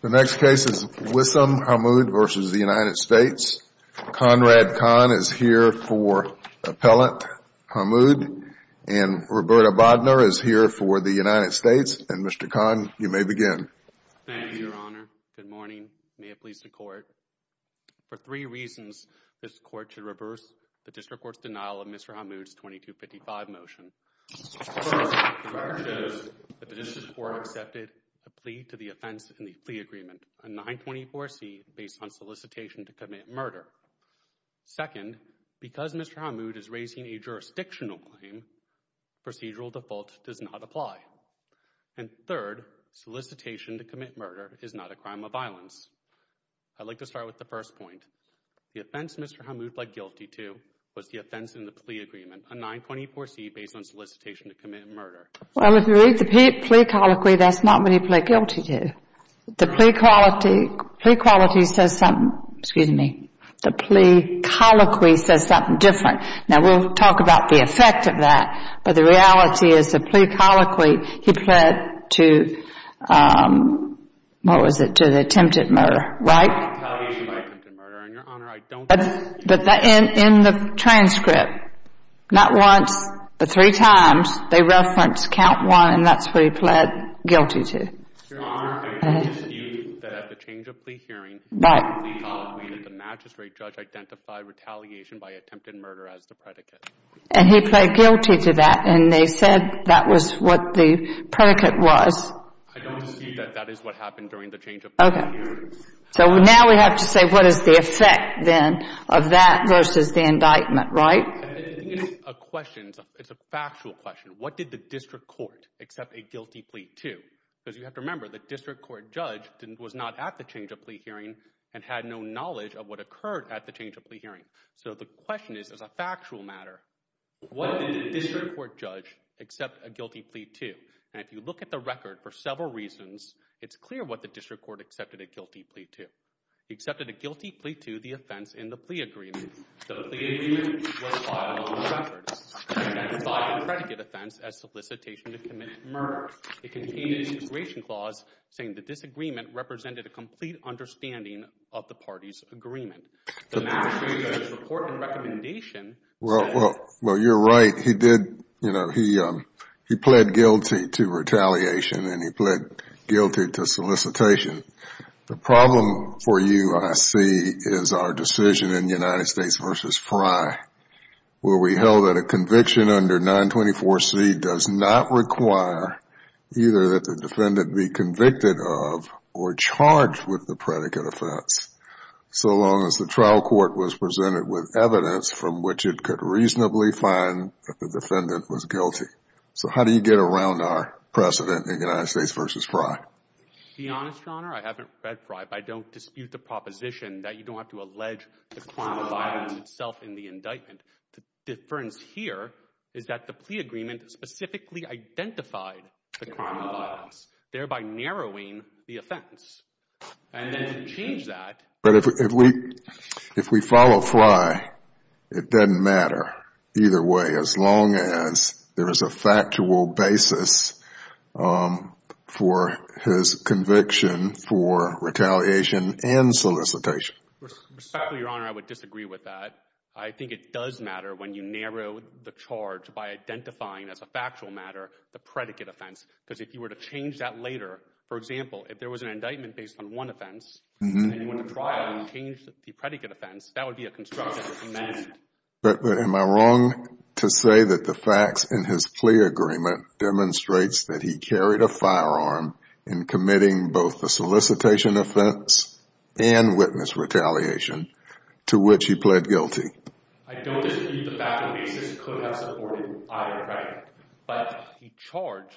The next case is Wissam Hammoud v. United States. Conrad Kahn is here for Appellant Hammoud and Roberta Bodner is here for the United States. Mr. Kahn, you may begin. Thank you, Your Honor. Good morning. May it please the Court. For three reasons, this Court should reverse the District Court's denial of Mr. Hammoud's 2255 motion. First, the record shows that the District Court accepted a plea to the offense in the plea agreement, a 924C based on solicitation to commit murder. Second, because Mr. Hammoud is raising a jurisdictional claim, procedural default does not apply. And third, solicitation to commit murder is not a crime of violence. I'd like to start with the first point. The offense Mr. Hammoud pled guilty to was the offense in the plea agreement, a 924C based on solicitation to commit murder. Well, if you read the plea colloquy, that's not what he pled guilty to. The plea quality says something different. Now we'll talk about the effect of that, but the reality is the plea colloquy, he pled to the attempted murder, right? But in the transcript, not once, but three times, they referenced count one, and that's what he pled guilty to. Your Honor, I don't dispute that at the change of plea hearing, the plea colloquy that the magistrate judge identified retaliation by attempted murder as the predicate. And he pled guilty to that, and they said that was what the predicate was. I don't dispute that that is what happened during the change of plea hearing. Okay, so now we have to say what is the effect then of that versus the indictment, right? It's a question, it's a factual question, what did the district court accept a guilty plea to? Because you have to remember, the district court judge was not at the change of plea hearing and had no knowledge of what occurred at the change of plea hearing. So the question is, as a factual matter, what did the district court judge accept a guilty plea to? And if you look at the record, for several reasons, it's clear what the district court accepted a guilty plea to. He accepted a guilty plea to the offense in the plea agreement. The plea agreement was filed on the records, identified a predicate offense as solicitation to commit murder. It contained a situation clause saying the disagreement represented a complete understanding of the party's agreement. The magistrate judge's report and recommendation said- Well, you're right. He pled guilty to retaliation and he pled guilty to solicitation. The problem for you, I see, is our decision in United States v. Frye where we held that a conviction under 924C does not require either that the defendant be convicted of or charged with the predicate offense so long as the trial court was presented with evidence from which it could reasonably find that the defendant was guilty. So how do you get around our precedent in United States v. Frye? To be honest, Your Honor, I haven't read Frye, but I don't dispute the proposition that you don't have to allege the crime of violence itself in the indictment. The difference here is that the plea agreement specifically identified the crime of violence, thereby narrowing the offense. And then to change that- But if we follow Frye, it doesn't matter either way as long as there is a factual basis for his conviction for retaliation and solicitation. Respectfully, Your Honor, I would disagree with that. I think it does matter when you narrow the charge by identifying as a factual matter the predicate offense because if you were to change that later, for example, if there was an indictment based on one offense and you went to trial and you changed the predicate offense, that would be a constructive amendment. But am I wrong to say that the facts in his plea agreement demonstrates that he carried a firearm in committing both the solicitation offense and witness retaliation to which he pled guilty? I don't disagree with the fact that the basis could have supported either, right? But he charged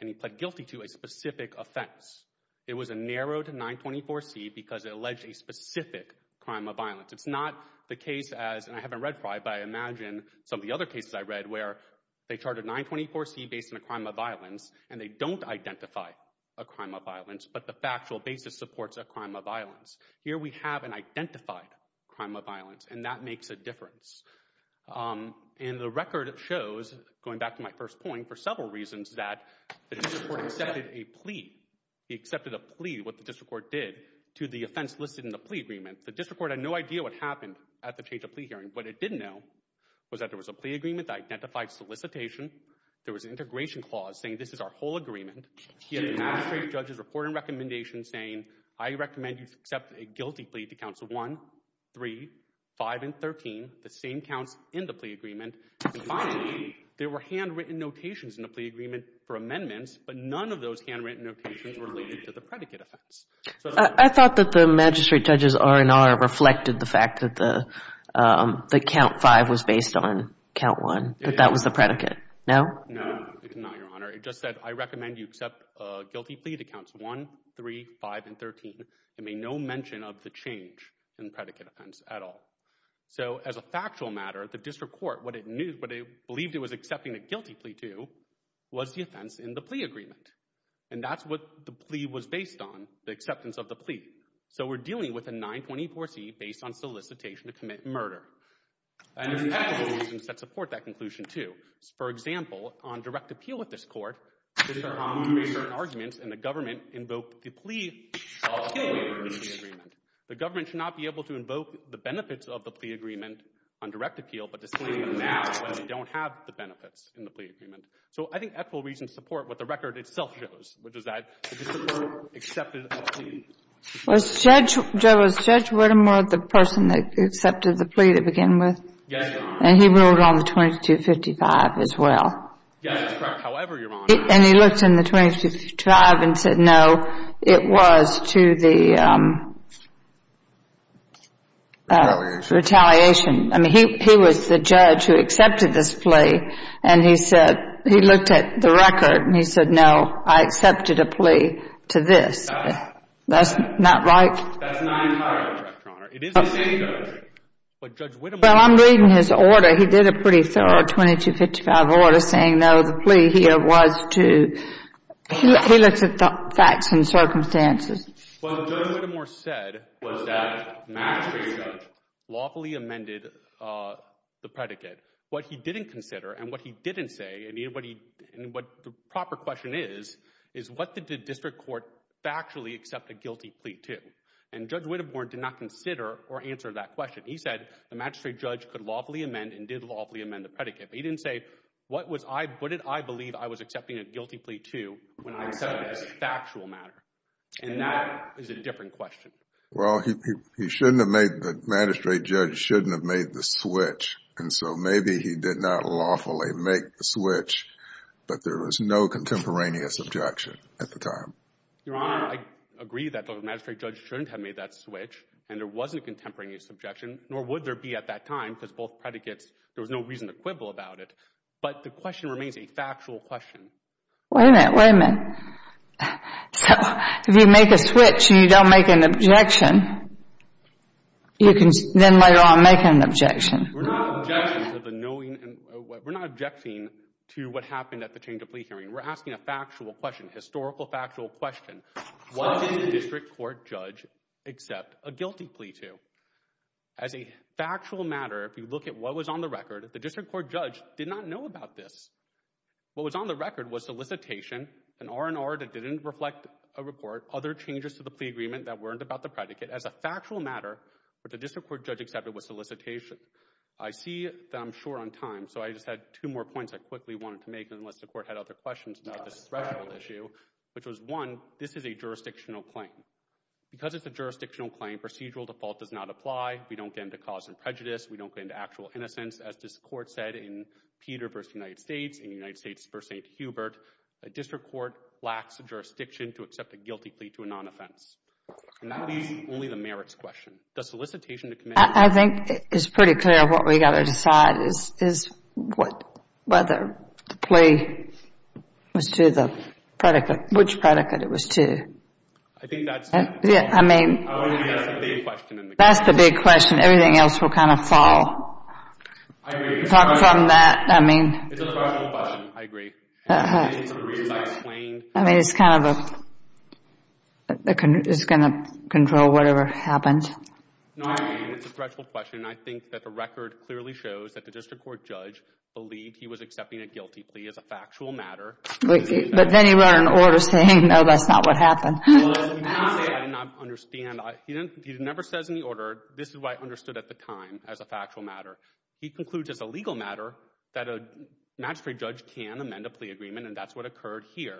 and he pled guilty to a specific offense. It was a narrowed 924C because it alleged a specific crime of violence. It's not the case as, and I haven't read Frye, but I imagine some of the other cases I read where they charted 924C based on a crime of violence and they don't identify a crime of violence, but the factual basis supports a crime of violence. Here we have an identified crime of violence and that makes a difference. And the record shows, going back to my first point, for several reasons that the district court accepted a plea. He accepted a plea, what the district court did, to the offense listed in the plea agreement. The district court had no idea what happened at the change of plea hearing. What it didn't know was that there was a plea agreement that identified solicitation, there was an integration clause saying this is our whole agreement, he had a magistrate judge's report and recommendation saying I recommend you accept a guilty plea to counts of 1, 3, 5, and 13, the same counts in the plea agreement, and finally, there were handwritten notations in the plea agreement for amendments, but none of those handwritten notations were related to the predicate offense. I thought that the magistrate judge's R&R reflected the fact that the count 5 was based on count 1, that that was the predicate. No? No, it's not, Your Honor. It just said I recommend you accept a guilty plea to counts 1, 3, 5, and 13, and made no mention of the change in the predicate offense at all. So as a factual matter, the district court, what it knew, what it believed it was accepting a guilty plea to was the offense in the plea agreement, and that's what the plea was based on, the acceptance of the plea. So we're dealing with a 924C based on solicitation to commit murder. And there's technical reasons that support that conclusion, too. For example, on direct appeal at this court, the district court made certain arguments and the government invoked the plea of the plea agreement. The government should not be able to invoke the benefits of the plea agreement on direct benefits in the plea agreement. So I think actual reasons support what the record itself shows, which is that the district court accepted a plea. Was Judge Whittemore the person that accepted the plea to begin with? Yes, Your Honor. And he ruled on the 2255 as well? Yes, that's correct, however, Your Honor. And he looked in the 2255 and said, no, it was to the retaliation. I mean, he was the judge who accepted this plea, and he said, he looked at the record and he said, no, I accepted a plea to this. That's not right? That's not entirely correct, Your Honor. It is the same judge. But Judge Whittemore— Well, I'm reading his order. He did a pretty thorough 2255 order saying, no, the plea here was to—he looks at facts and circumstances. What Judge Whittemore said was that the magistrate judge lawfully amended the predicate. What he didn't consider and what he didn't say, and what the proper question is, is what did the district court factually accept a guilty plea to? And Judge Whittemore did not consider or answer that question. He said the magistrate judge could lawfully amend and did lawfully amend the predicate. But he didn't say, what did I believe I was accepting a guilty plea to when I accepted it as a factual matter? And that is a different question. Well, he shouldn't have made—the magistrate judge shouldn't have made the switch. And so maybe he did not lawfully make the switch, but there was no contemporaneous objection at the time. Your Honor, I agree that the magistrate judge shouldn't have made that switch and there wasn't a contemporaneous objection, nor would there be at that time because both predicates—there was no reason to quibble about it. Wait a minute. Wait a minute. So if you make a switch and you don't make an objection, you can then later on make an objection. We're not objecting to the knowing—we're not objecting to what happened at the change of plea hearing. We're asking a factual question, historical factual question. What did the district court judge accept a guilty plea to? As a factual matter, if you look at what was on the record, the district court judge did not know about this. What was on the record was solicitation, an R&R that didn't reflect a report, other changes to the plea agreement that weren't about the predicate. As a factual matter, what the district court judge accepted was solicitation. I see that I'm short on time, so I just had two more points I quickly wanted to make unless the court had other questions about this threshold issue, which was, one, this is a jurisdictional claim. Because it's a jurisdictional claim, procedural default does not apply. We don't get into cause and prejudice. We don't get into actual innocence. As this court said in Peter v. United States, in United States v. St. Hubert, a district court lacks a jurisdiction to accept a guilty plea to a non-offense, and that is only the merits question. The solicitation to commit— I think it's pretty clear what we've got to decide is whether the plea was to the predicate, which predicate it was to. I think that's— I mean— That's the big question in the case. That's the big question. And everything else will kind of fall apart from that. It's a question. I mean— It's a threshold question. I agree. And I think it's one of the reasons I explained— I mean, it's kind of a—it's going to control whatever happens. No, I agree. It's a threshold question. And I think that the record clearly shows that the district court judge believed he was accepting a guilty plea as a factual matter. But then he wrote an order saying, no, that's not what happened. Well, listen, he didn't say, I did not understand. He didn't say, I did not understand. He didn't say, I did not understand. He didn't say, I did not understand. He doesn't even—he doesn't understand that the manslaughter was understood at the time as a factual matter. He concludes, as a legal matter, that a magistrate judge can amend a plea agreement. And that's what occurred here.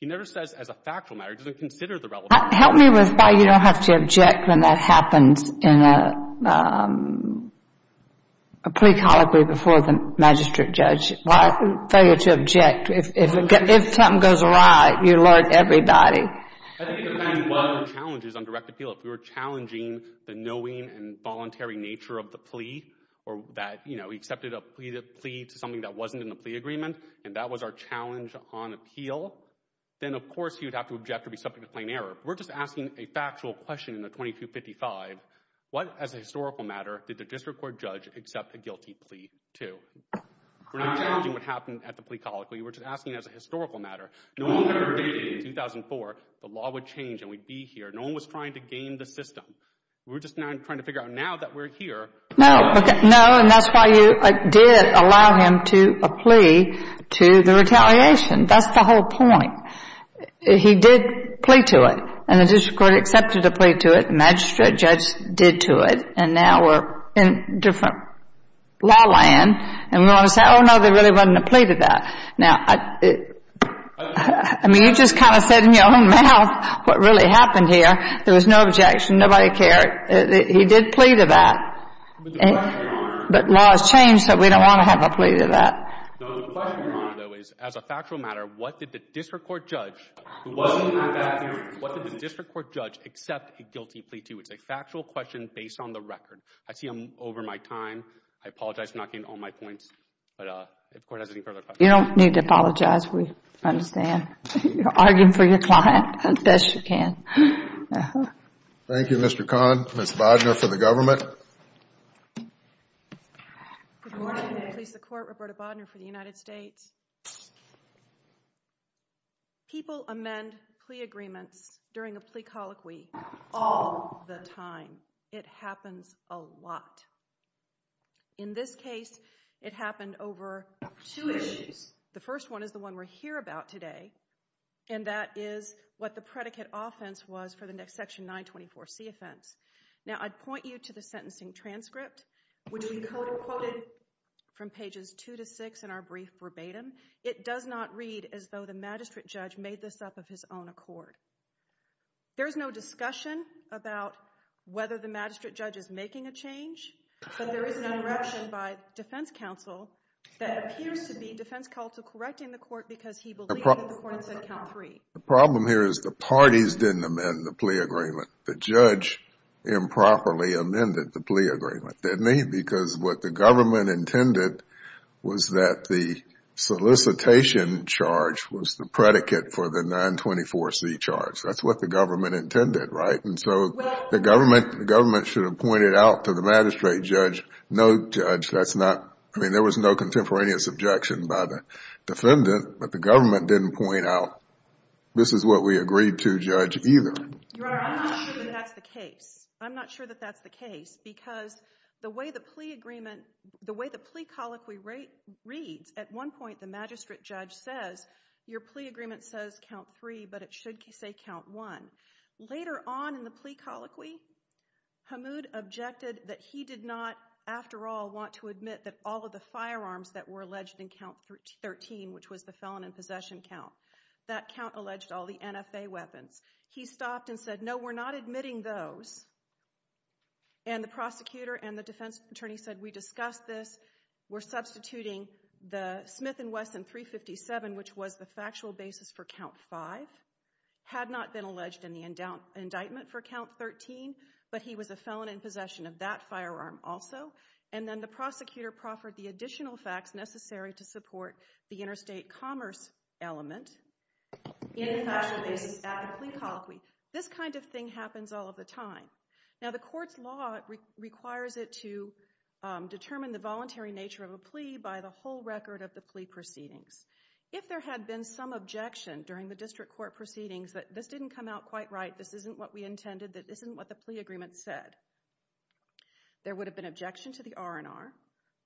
He never says as a factual matter. He doesn't consider the relevant— Help me with why you don't have to object when that happens in a plea colloquy before the magistrate judge. Why fail you to object? If a temp goes awry, you learnt everybody. I think it depends on what the challenge is on direct appeal. If we were challenging the knowing and voluntary nature of the plea or that, you know, he accepted a plea to something that wasn't in the plea agreement, and that was our challenge on appeal, then of course he would have to object or be subject to plain error. We're just asking a factual question in the 2255. What as a historical matter did the district court judge accept a guilty plea to? We're not challenging what happened at the plea colloquy, we're just asking as a historical matter. No one ever did in 2004. The law would change and we'd be here. No one was trying to game the system. We're just now trying to figure out now that we're here— No, no, and that's why you did allow him to—a plea to the retaliation. That's the whole point. He did plea to it, and the district court accepted a plea to it, magistrate judge did to it, and now we're in different law land, and we want to say, oh, no, there really wasn't a plea to that. Now, I mean, you just kind of said in your own mouth what really happened here. There was no objection, nobody cared. He did plea to that. But the question, Your Honor— But law has changed, so we don't want to have a plea to that. No, the question, Your Honor, though, is as a factual matter, what did the district court judge, who wasn't at that hearing, what did the district court judge accept a guilty plea to? It's a factual question based on the record. I see I'm over my time. I apologize for not getting to all my points, but if the Court has any further You don't need to apologize, we understand. You're arguing for your client as best you can. Thank you, Mr. Kahn. Ms. Bodner for the government. Good morning. I'm the police of the court, Roberta Bodner for the United States. People amend plea agreements during a plea colloquy all the time. It happens a lot. In this case, it happened over two issues. The first one is the one we're here about today, and that is what the predicate offense was for the section 924C offense. Now, I'd point you to the sentencing transcript, which we co-quoted from pages 2 to 6 in our brief verbatim. It does not read as though the magistrate judge made this up of his own accord. There's no discussion about whether the magistrate judge is making a change. There is an interruption by defense counsel that appears to be defense counsel correcting the court because he believes the court said count three. The problem here is the parties didn't amend the plea agreement. The judge improperly amended the plea agreement, didn't he? Because what the government intended was that the solicitation charge was the predicate for the 924C charge. That's what the government intended, right? The government should have pointed out to the magistrate judge, no, judge, that's not. I mean, there was no contemporaneous objection by the defendant, but the government didn't point out, this is what we agreed to, judge, either. I'm not sure that that's the case. Because the way the plea colloquy reads, at one point the magistrate judge says, your plea agreement says count three, but it should say count one. Later on in the plea colloquy, Hamoud objected that he did not, after all, want to admit that all of the firearms that were alleged in count 13, which was the felon in possession count, that count alleged all the NFA weapons. He stopped and said, no, we're not admitting those. And the prosecutor and the defense attorney said, we discussed this, we're substituting the Smith and Wesson 357, which was the factual basis for count five, had not been alleged in the indictment for count 13, but he was a felon in possession of that firearm also. And then the prosecutor proffered the additional facts necessary to support the interstate commerce element in the factual basis of the plea colloquy. This kind of thing happens all of the time. Now, the court's law requires it to determine the voluntary nature of a plea by the whole record of the plea proceedings. If there had been some objection during the district court proceedings that this didn't come out quite right, this isn't what we intended, that this isn't what the plea agreement said, there would have been objection to the R&R,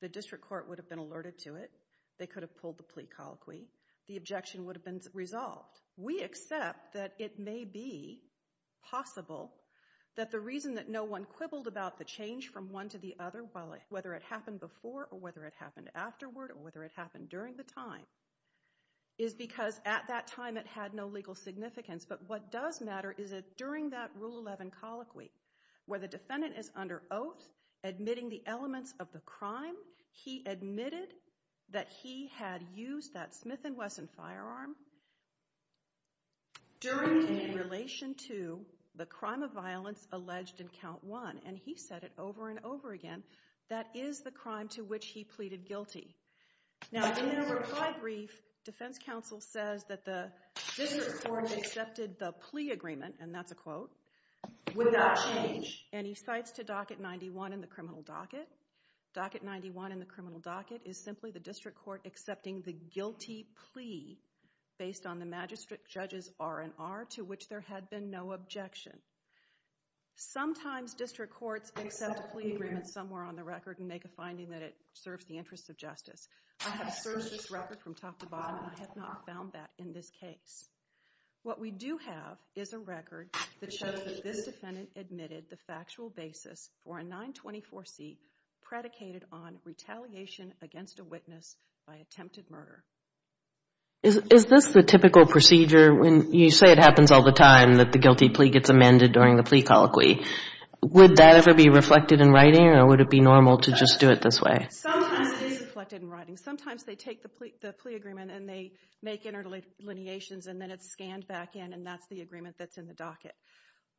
the district court would have been alerted to it, they could have pulled the plea colloquy, the objection would have been resolved. We accept that it may be possible that the reason that no one quibbled about the change from one to the other, whether it happened before or whether it happened during the time, is because at that time it had no legal significance. But what does matter is that during that Rule 11 colloquy, where the defendant is under oath, admitting the elements of the crime, he admitted that he had used that Smith & Wesson firearm during and in relation to the crime of violence alleged in count one. And he said it over and over again, that is the crime to which he pleaded guilty. Now in their reply brief, defense counsel says that the district court accepted the plea agreement, and that's a quote, without change, and he cites to docket 91 in the criminal docket, docket 91 in the criminal docket is simply the district court accepting the guilty plea based on the magistrate judge's R&R to which there had been no objection. Sometimes district courts accept a plea agreement somewhere on the record and make a finding that it serves the interests of justice. I have searched this record from top to bottom, and I have not found that in this case. What we do have is a record that shows that this defendant admitted the factual basis for a 924C predicated on retaliation against a witness by attempted murder. Is this the typical procedure when you say it happens all the time that the guilty plea gets amended during the plea colloquy? Would that ever be reflected in writing, or would it be normal to just do it this way? Sometimes it is reflected in writing. Sometimes they take the plea agreement, and they make interdelineations, and then it's scanned back in, and that's the agreement that's in the docket.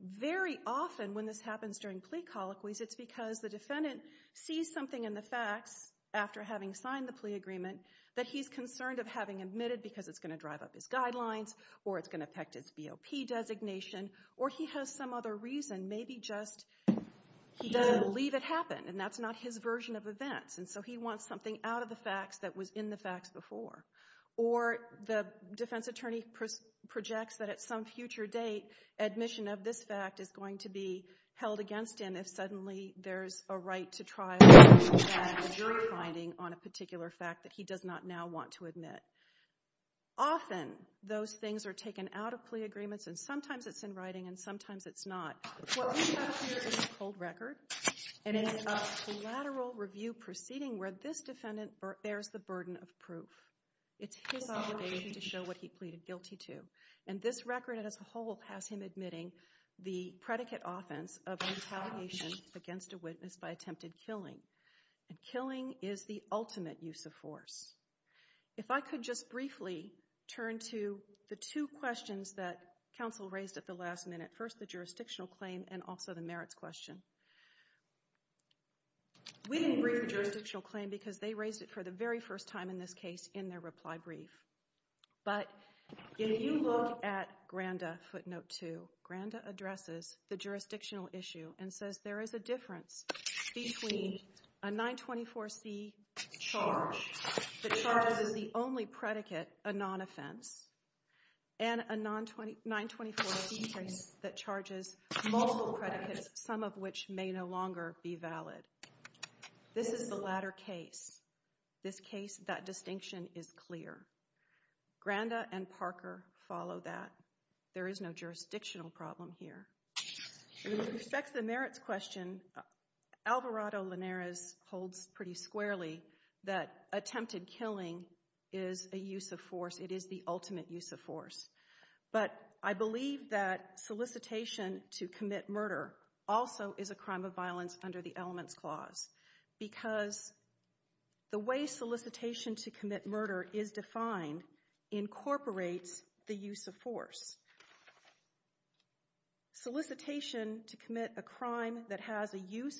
Very often when this happens during plea colloquies, it's because the defendant sees something in the facts after having signed the plea agreement that he's concerned of having admitted because it's going to drive up his guidelines, or it's going to affect his BOP designation, or he has some other reason, maybe just he doesn't believe it happened, and that's not his version of events, and so he wants something out of the facts that was in the facts before. Or the defense attorney projects that at some future date, admission of this fact is going to be held against him if suddenly there's a right to trial and a jury finding on a particular fact that he does not now want to admit. Often those things are taken out of plea agreements, and sometimes it's in writing, and sometimes it's not. What we have here is a cold record, and it is a collateral review proceeding where this defendant bears the burden of proof. It's his obligation to show what he pleaded guilty to, and this record as a whole has him admitting the predicate offense of an retaliation against a witness by attempted killing, and killing is the ultimate use of force. If I could just briefly turn to the two questions that counsel raised at the last minute, first the jurisdictional claim and also the merits question. We didn't brief the jurisdictional claim because they raised it for the very first time in this case in their reply brief, but if you look at Granda footnote two, Granda addresses the jurisdictional issue and says there is a difference between a 924C charge that charges the only predicate, a non-offense, and a 924C case that charges multiple predicates, some of which may no longer be valid. This is the latter case. This case, that distinction is clear. Granda and Parker follow that. There is no jurisdictional problem here. With respect to the merits question, Alvarado-Linares holds pretty squarely that attempted killing is a use of force. It is the ultimate use of force. But I believe that solicitation to commit murder also is a crime of violence under the elements clause because the way solicitation to commit murder is defined incorporates the use of force. Solicitation to commit a crime that has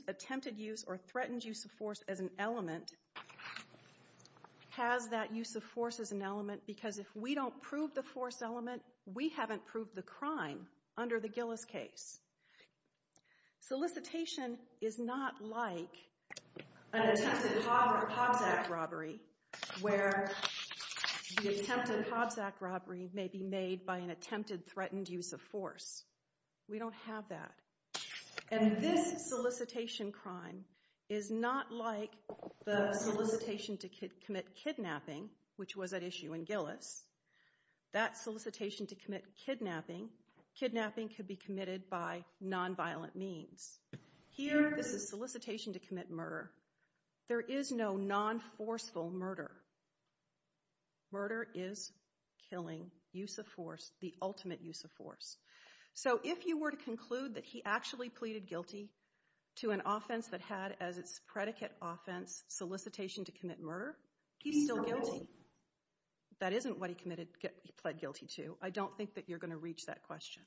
attempted use or threatened use of force as an element has that use of force as an element because if we don't prove the force element, we haven't proved the crime under the Gillis case. Solicitation is not like an attempted Hobbs Act robbery where the attempted Hobbs Act robbery may be made by an attempted threatened use of force. We don't have that. And this solicitation crime is not like the solicitation to commit kidnapping, which was at issue in Gillis. That solicitation to commit kidnapping, kidnapping could be committed by nonviolent means. Here, this is solicitation to commit murder. There is no non-forceful murder. So if you were to conclude that he actually pleaded guilty to an offense that had as its predicate offense solicitation to commit murder, he's still guilty. That isn't what he committed, pled guilty to. I don't think that you're going to reach that question.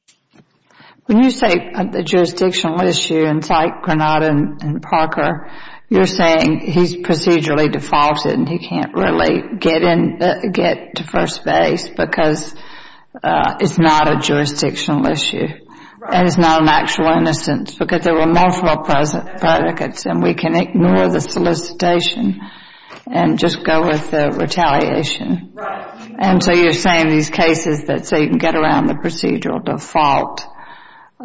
When you say the jurisdictional issue inside Granada and Parker, you're saying he's procedurally defaulted and he can't really get in, get to first base because it's not a jurisdictional issue and it's not an actual innocence because there were multiple present predicates and we can ignore the solicitation and just go with the retaliation. And so you're saying these cases that say you can get around the procedural default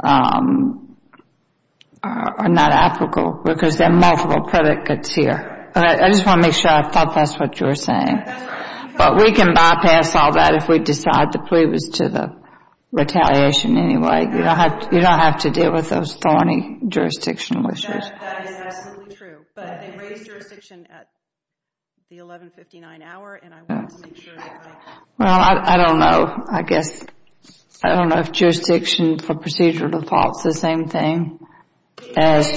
are not applicable because there are multiple predicates here. But I just want to make sure I thought that's what you were saying. But we can bypass all that if we decide the plea was to the retaliation anyway. You don't have to deal with those thorny jurisdictional issues. That is absolutely true. But they raised jurisdiction at the 1159 hour and I want to make sure that I. Well, I don't know. I guess I don't know if jurisdiction for procedural defaults the same thing as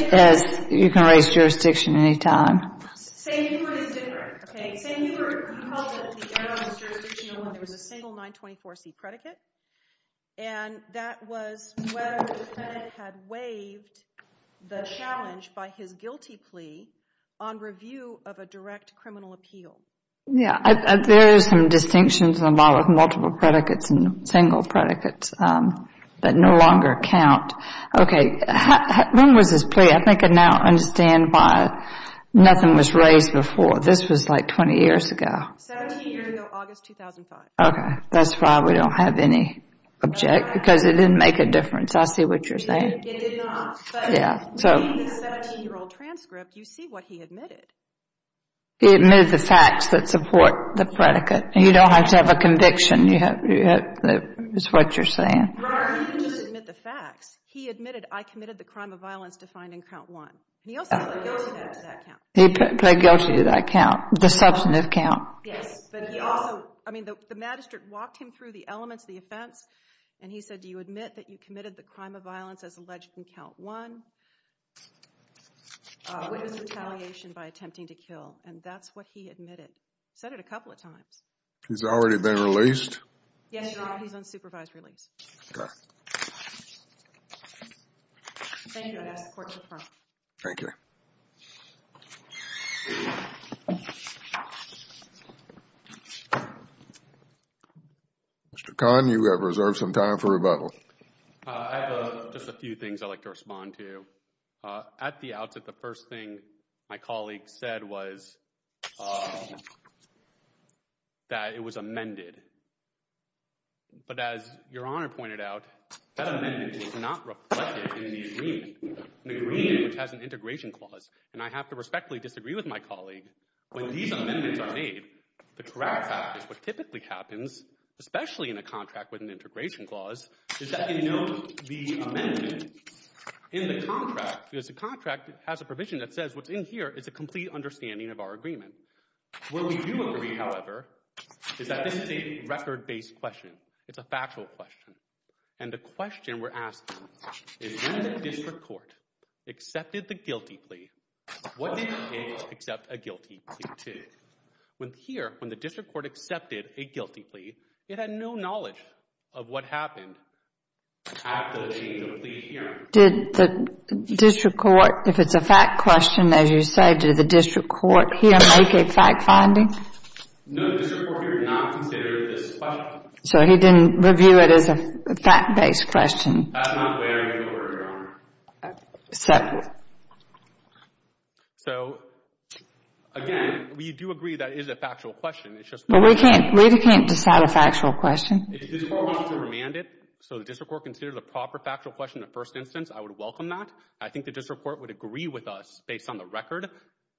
you can raise jurisdiction any time. Say you were in Denver. Okay. Say you were in public, the evidence was jurisdictional and there was a single 924c predicate. And that was whether the defendant had waived the challenge by his guilty plea on review of a direct criminal appeal. Yeah, there are some distinctions involved with multiple predicates and single predicates that no longer count. Okay. When was this plea? I think I now understand why nothing was raised before. This was like 20 years ago. 17 years ago, August 2005. Okay. That's why we don't have any object because it didn't make a difference. I see what you're saying. It did not. Yeah. So in the 17 year old transcript, you see what he admitted. He admitted the facts that support the predicate. You don't have to have a conviction. You have, that is what you're saying. Right. He didn't just admit the facts. He admitted, I committed the crime of violence defined in count one. He also pled guilty to that count. He pled guilty to that count. The substantive count. Yes. But he also, I mean, the magistrate walked him through the elements of the offense and he said, do you admit that you committed the crime of violence as alleged in count one? Witness retaliation by attempting to kill. And that's what he admitted. Said it a couple of times. He's already been released? Yes, Your Honor. He's on supervised release. Thank you, I ask the court to affirm. Thank you. Mr. Khan, you have reserved some time for rebuttal. I have just a few things I'd like to respond to. At the outset, the first thing my colleague said was that it was amended. But as Your Honor pointed out, that amendment was not reflected in the agreement. An agreement which has an integration clause. And I have to respectfully disagree with my colleague. When these amendments are made, the correct practice, what typically happens, especially in a contract with an integration clause, is that you note the amendment in the contract. Because the contract has a provision that says what's in here is a complete understanding of our agreement. What we do agree, however, is that this is a record-based question. It's a factual question. And the question we're asking is, when the district court accepted the guilty plea, what did it accept a guilty plea to? Here, when the district court accepted a guilty plea, it had no knowledge of what happened after the complete hearing. Did the district court, if it's a fact question, as you say, did the district court here make a fact finding? No, the district court here did not consider this a question. So he didn't review it as a fact-based question? That's not the way I would go about it, Your Honor. So, again, we do agree that it is a factual question. It's just that we can't decide a factual question. If the district court wants to remand it so the district court considers a proper factual question in the first instance, I would welcome that. I think the district court would agree with us based on the record.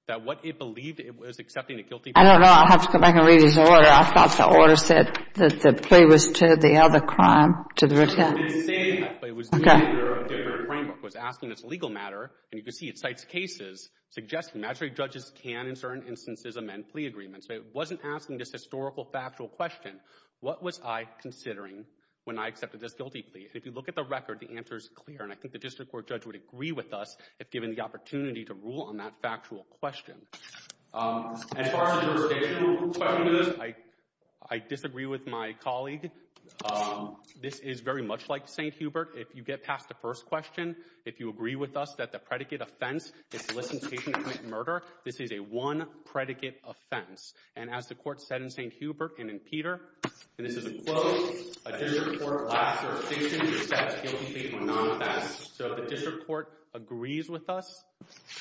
That what it believed it was accepting a guilty plea. I don't know. I'll have to go back and read his order. I thought the order said that the plea was to the other crime, to the retent. It didn't say that. Okay. But it was doing it under a different framework. It was asking this legal matter. And you can see it cites cases suggesting magistrate judges can in certain instances amend plea agreements. But it wasn't asking this historical factual question. What was I considering when I accepted this guilty plea? If you look at the record, the answer is clear. And I think the district court judge would agree with us if given the opportunity to rule on that factual question. As far as a jurisdictional question to this, I disagree with my colleague. This is very much like St. Hubert. If you get past the first question, if you agree with us that the predicate offense is solicitation to commit murder, this is a one predicate offense. And as the court said in St. Hubert and in Peter, and this is a quote, a district court last jurisdiction is to accept guilty plea for non-offense. So the district court agrees with us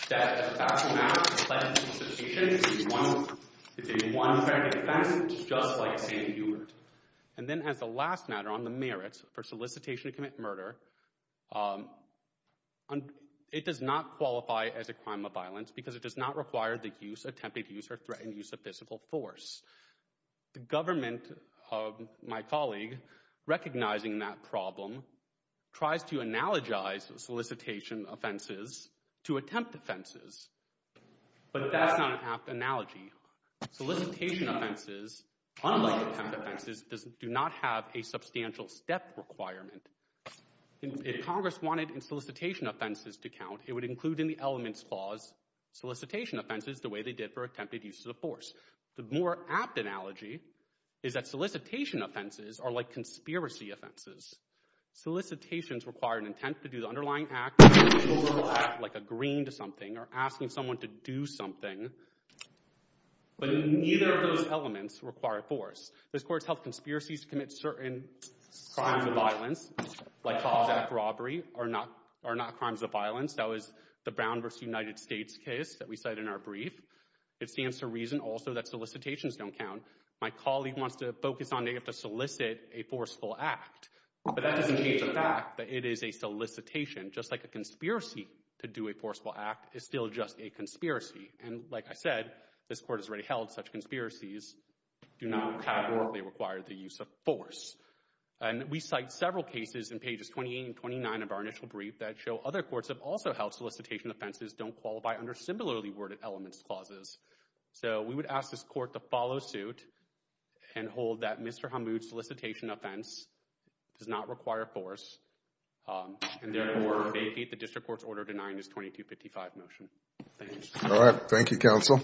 that as a factual matter, solicitation is a one predicate offense, just like St. Hubert. And then as the last matter on the merits for solicitation to commit murder, it does not qualify as a crime of violence because it does not require the use, attempted use, or threatened use of physical force. The government of my colleague, recognizing that problem, tries to analogize solicitation offenses to attempt offenses. But that's not an apt analogy. Solicitation offenses, unlike attempt offenses, do not have a substantial step requirement. If Congress wanted solicitation offenses to count, it would include in the elements clause solicitation offenses the way they did for attempted use of force. The more apt analogy is that solicitation offenses are like conspiracy offenses. Solicitations require an intent to do the underlying act like agreeing to something or asking someone to do something. But neither of those elements require force. This court's health conspiracies to commit certain crimes of violence, like false act robbery, are not crimes of violence. That was the Brown v. United States case that we cited in our brief. It stands to reason also that solicitations don't count. My colleague wants to focus on they have to solicit a forceful act. But that doesn't change the fact that it is a solicitation. Just like a conspiracy to do a forceful act is still just a conspiracy. And like I said, this court has already held such conspiracies do not adequately require the use of force. And we cite several cases in pages 28 and 29 of our initial brief that show other courts have also held solicitation offenses don't qualify under similarly worded elements clauses. So we would ask this court to follow suit and hold that Mr. Brown does not require force and therefore may defeat the district court's order denying this 2255 motion. Thank you. All right. Thank you, counsel.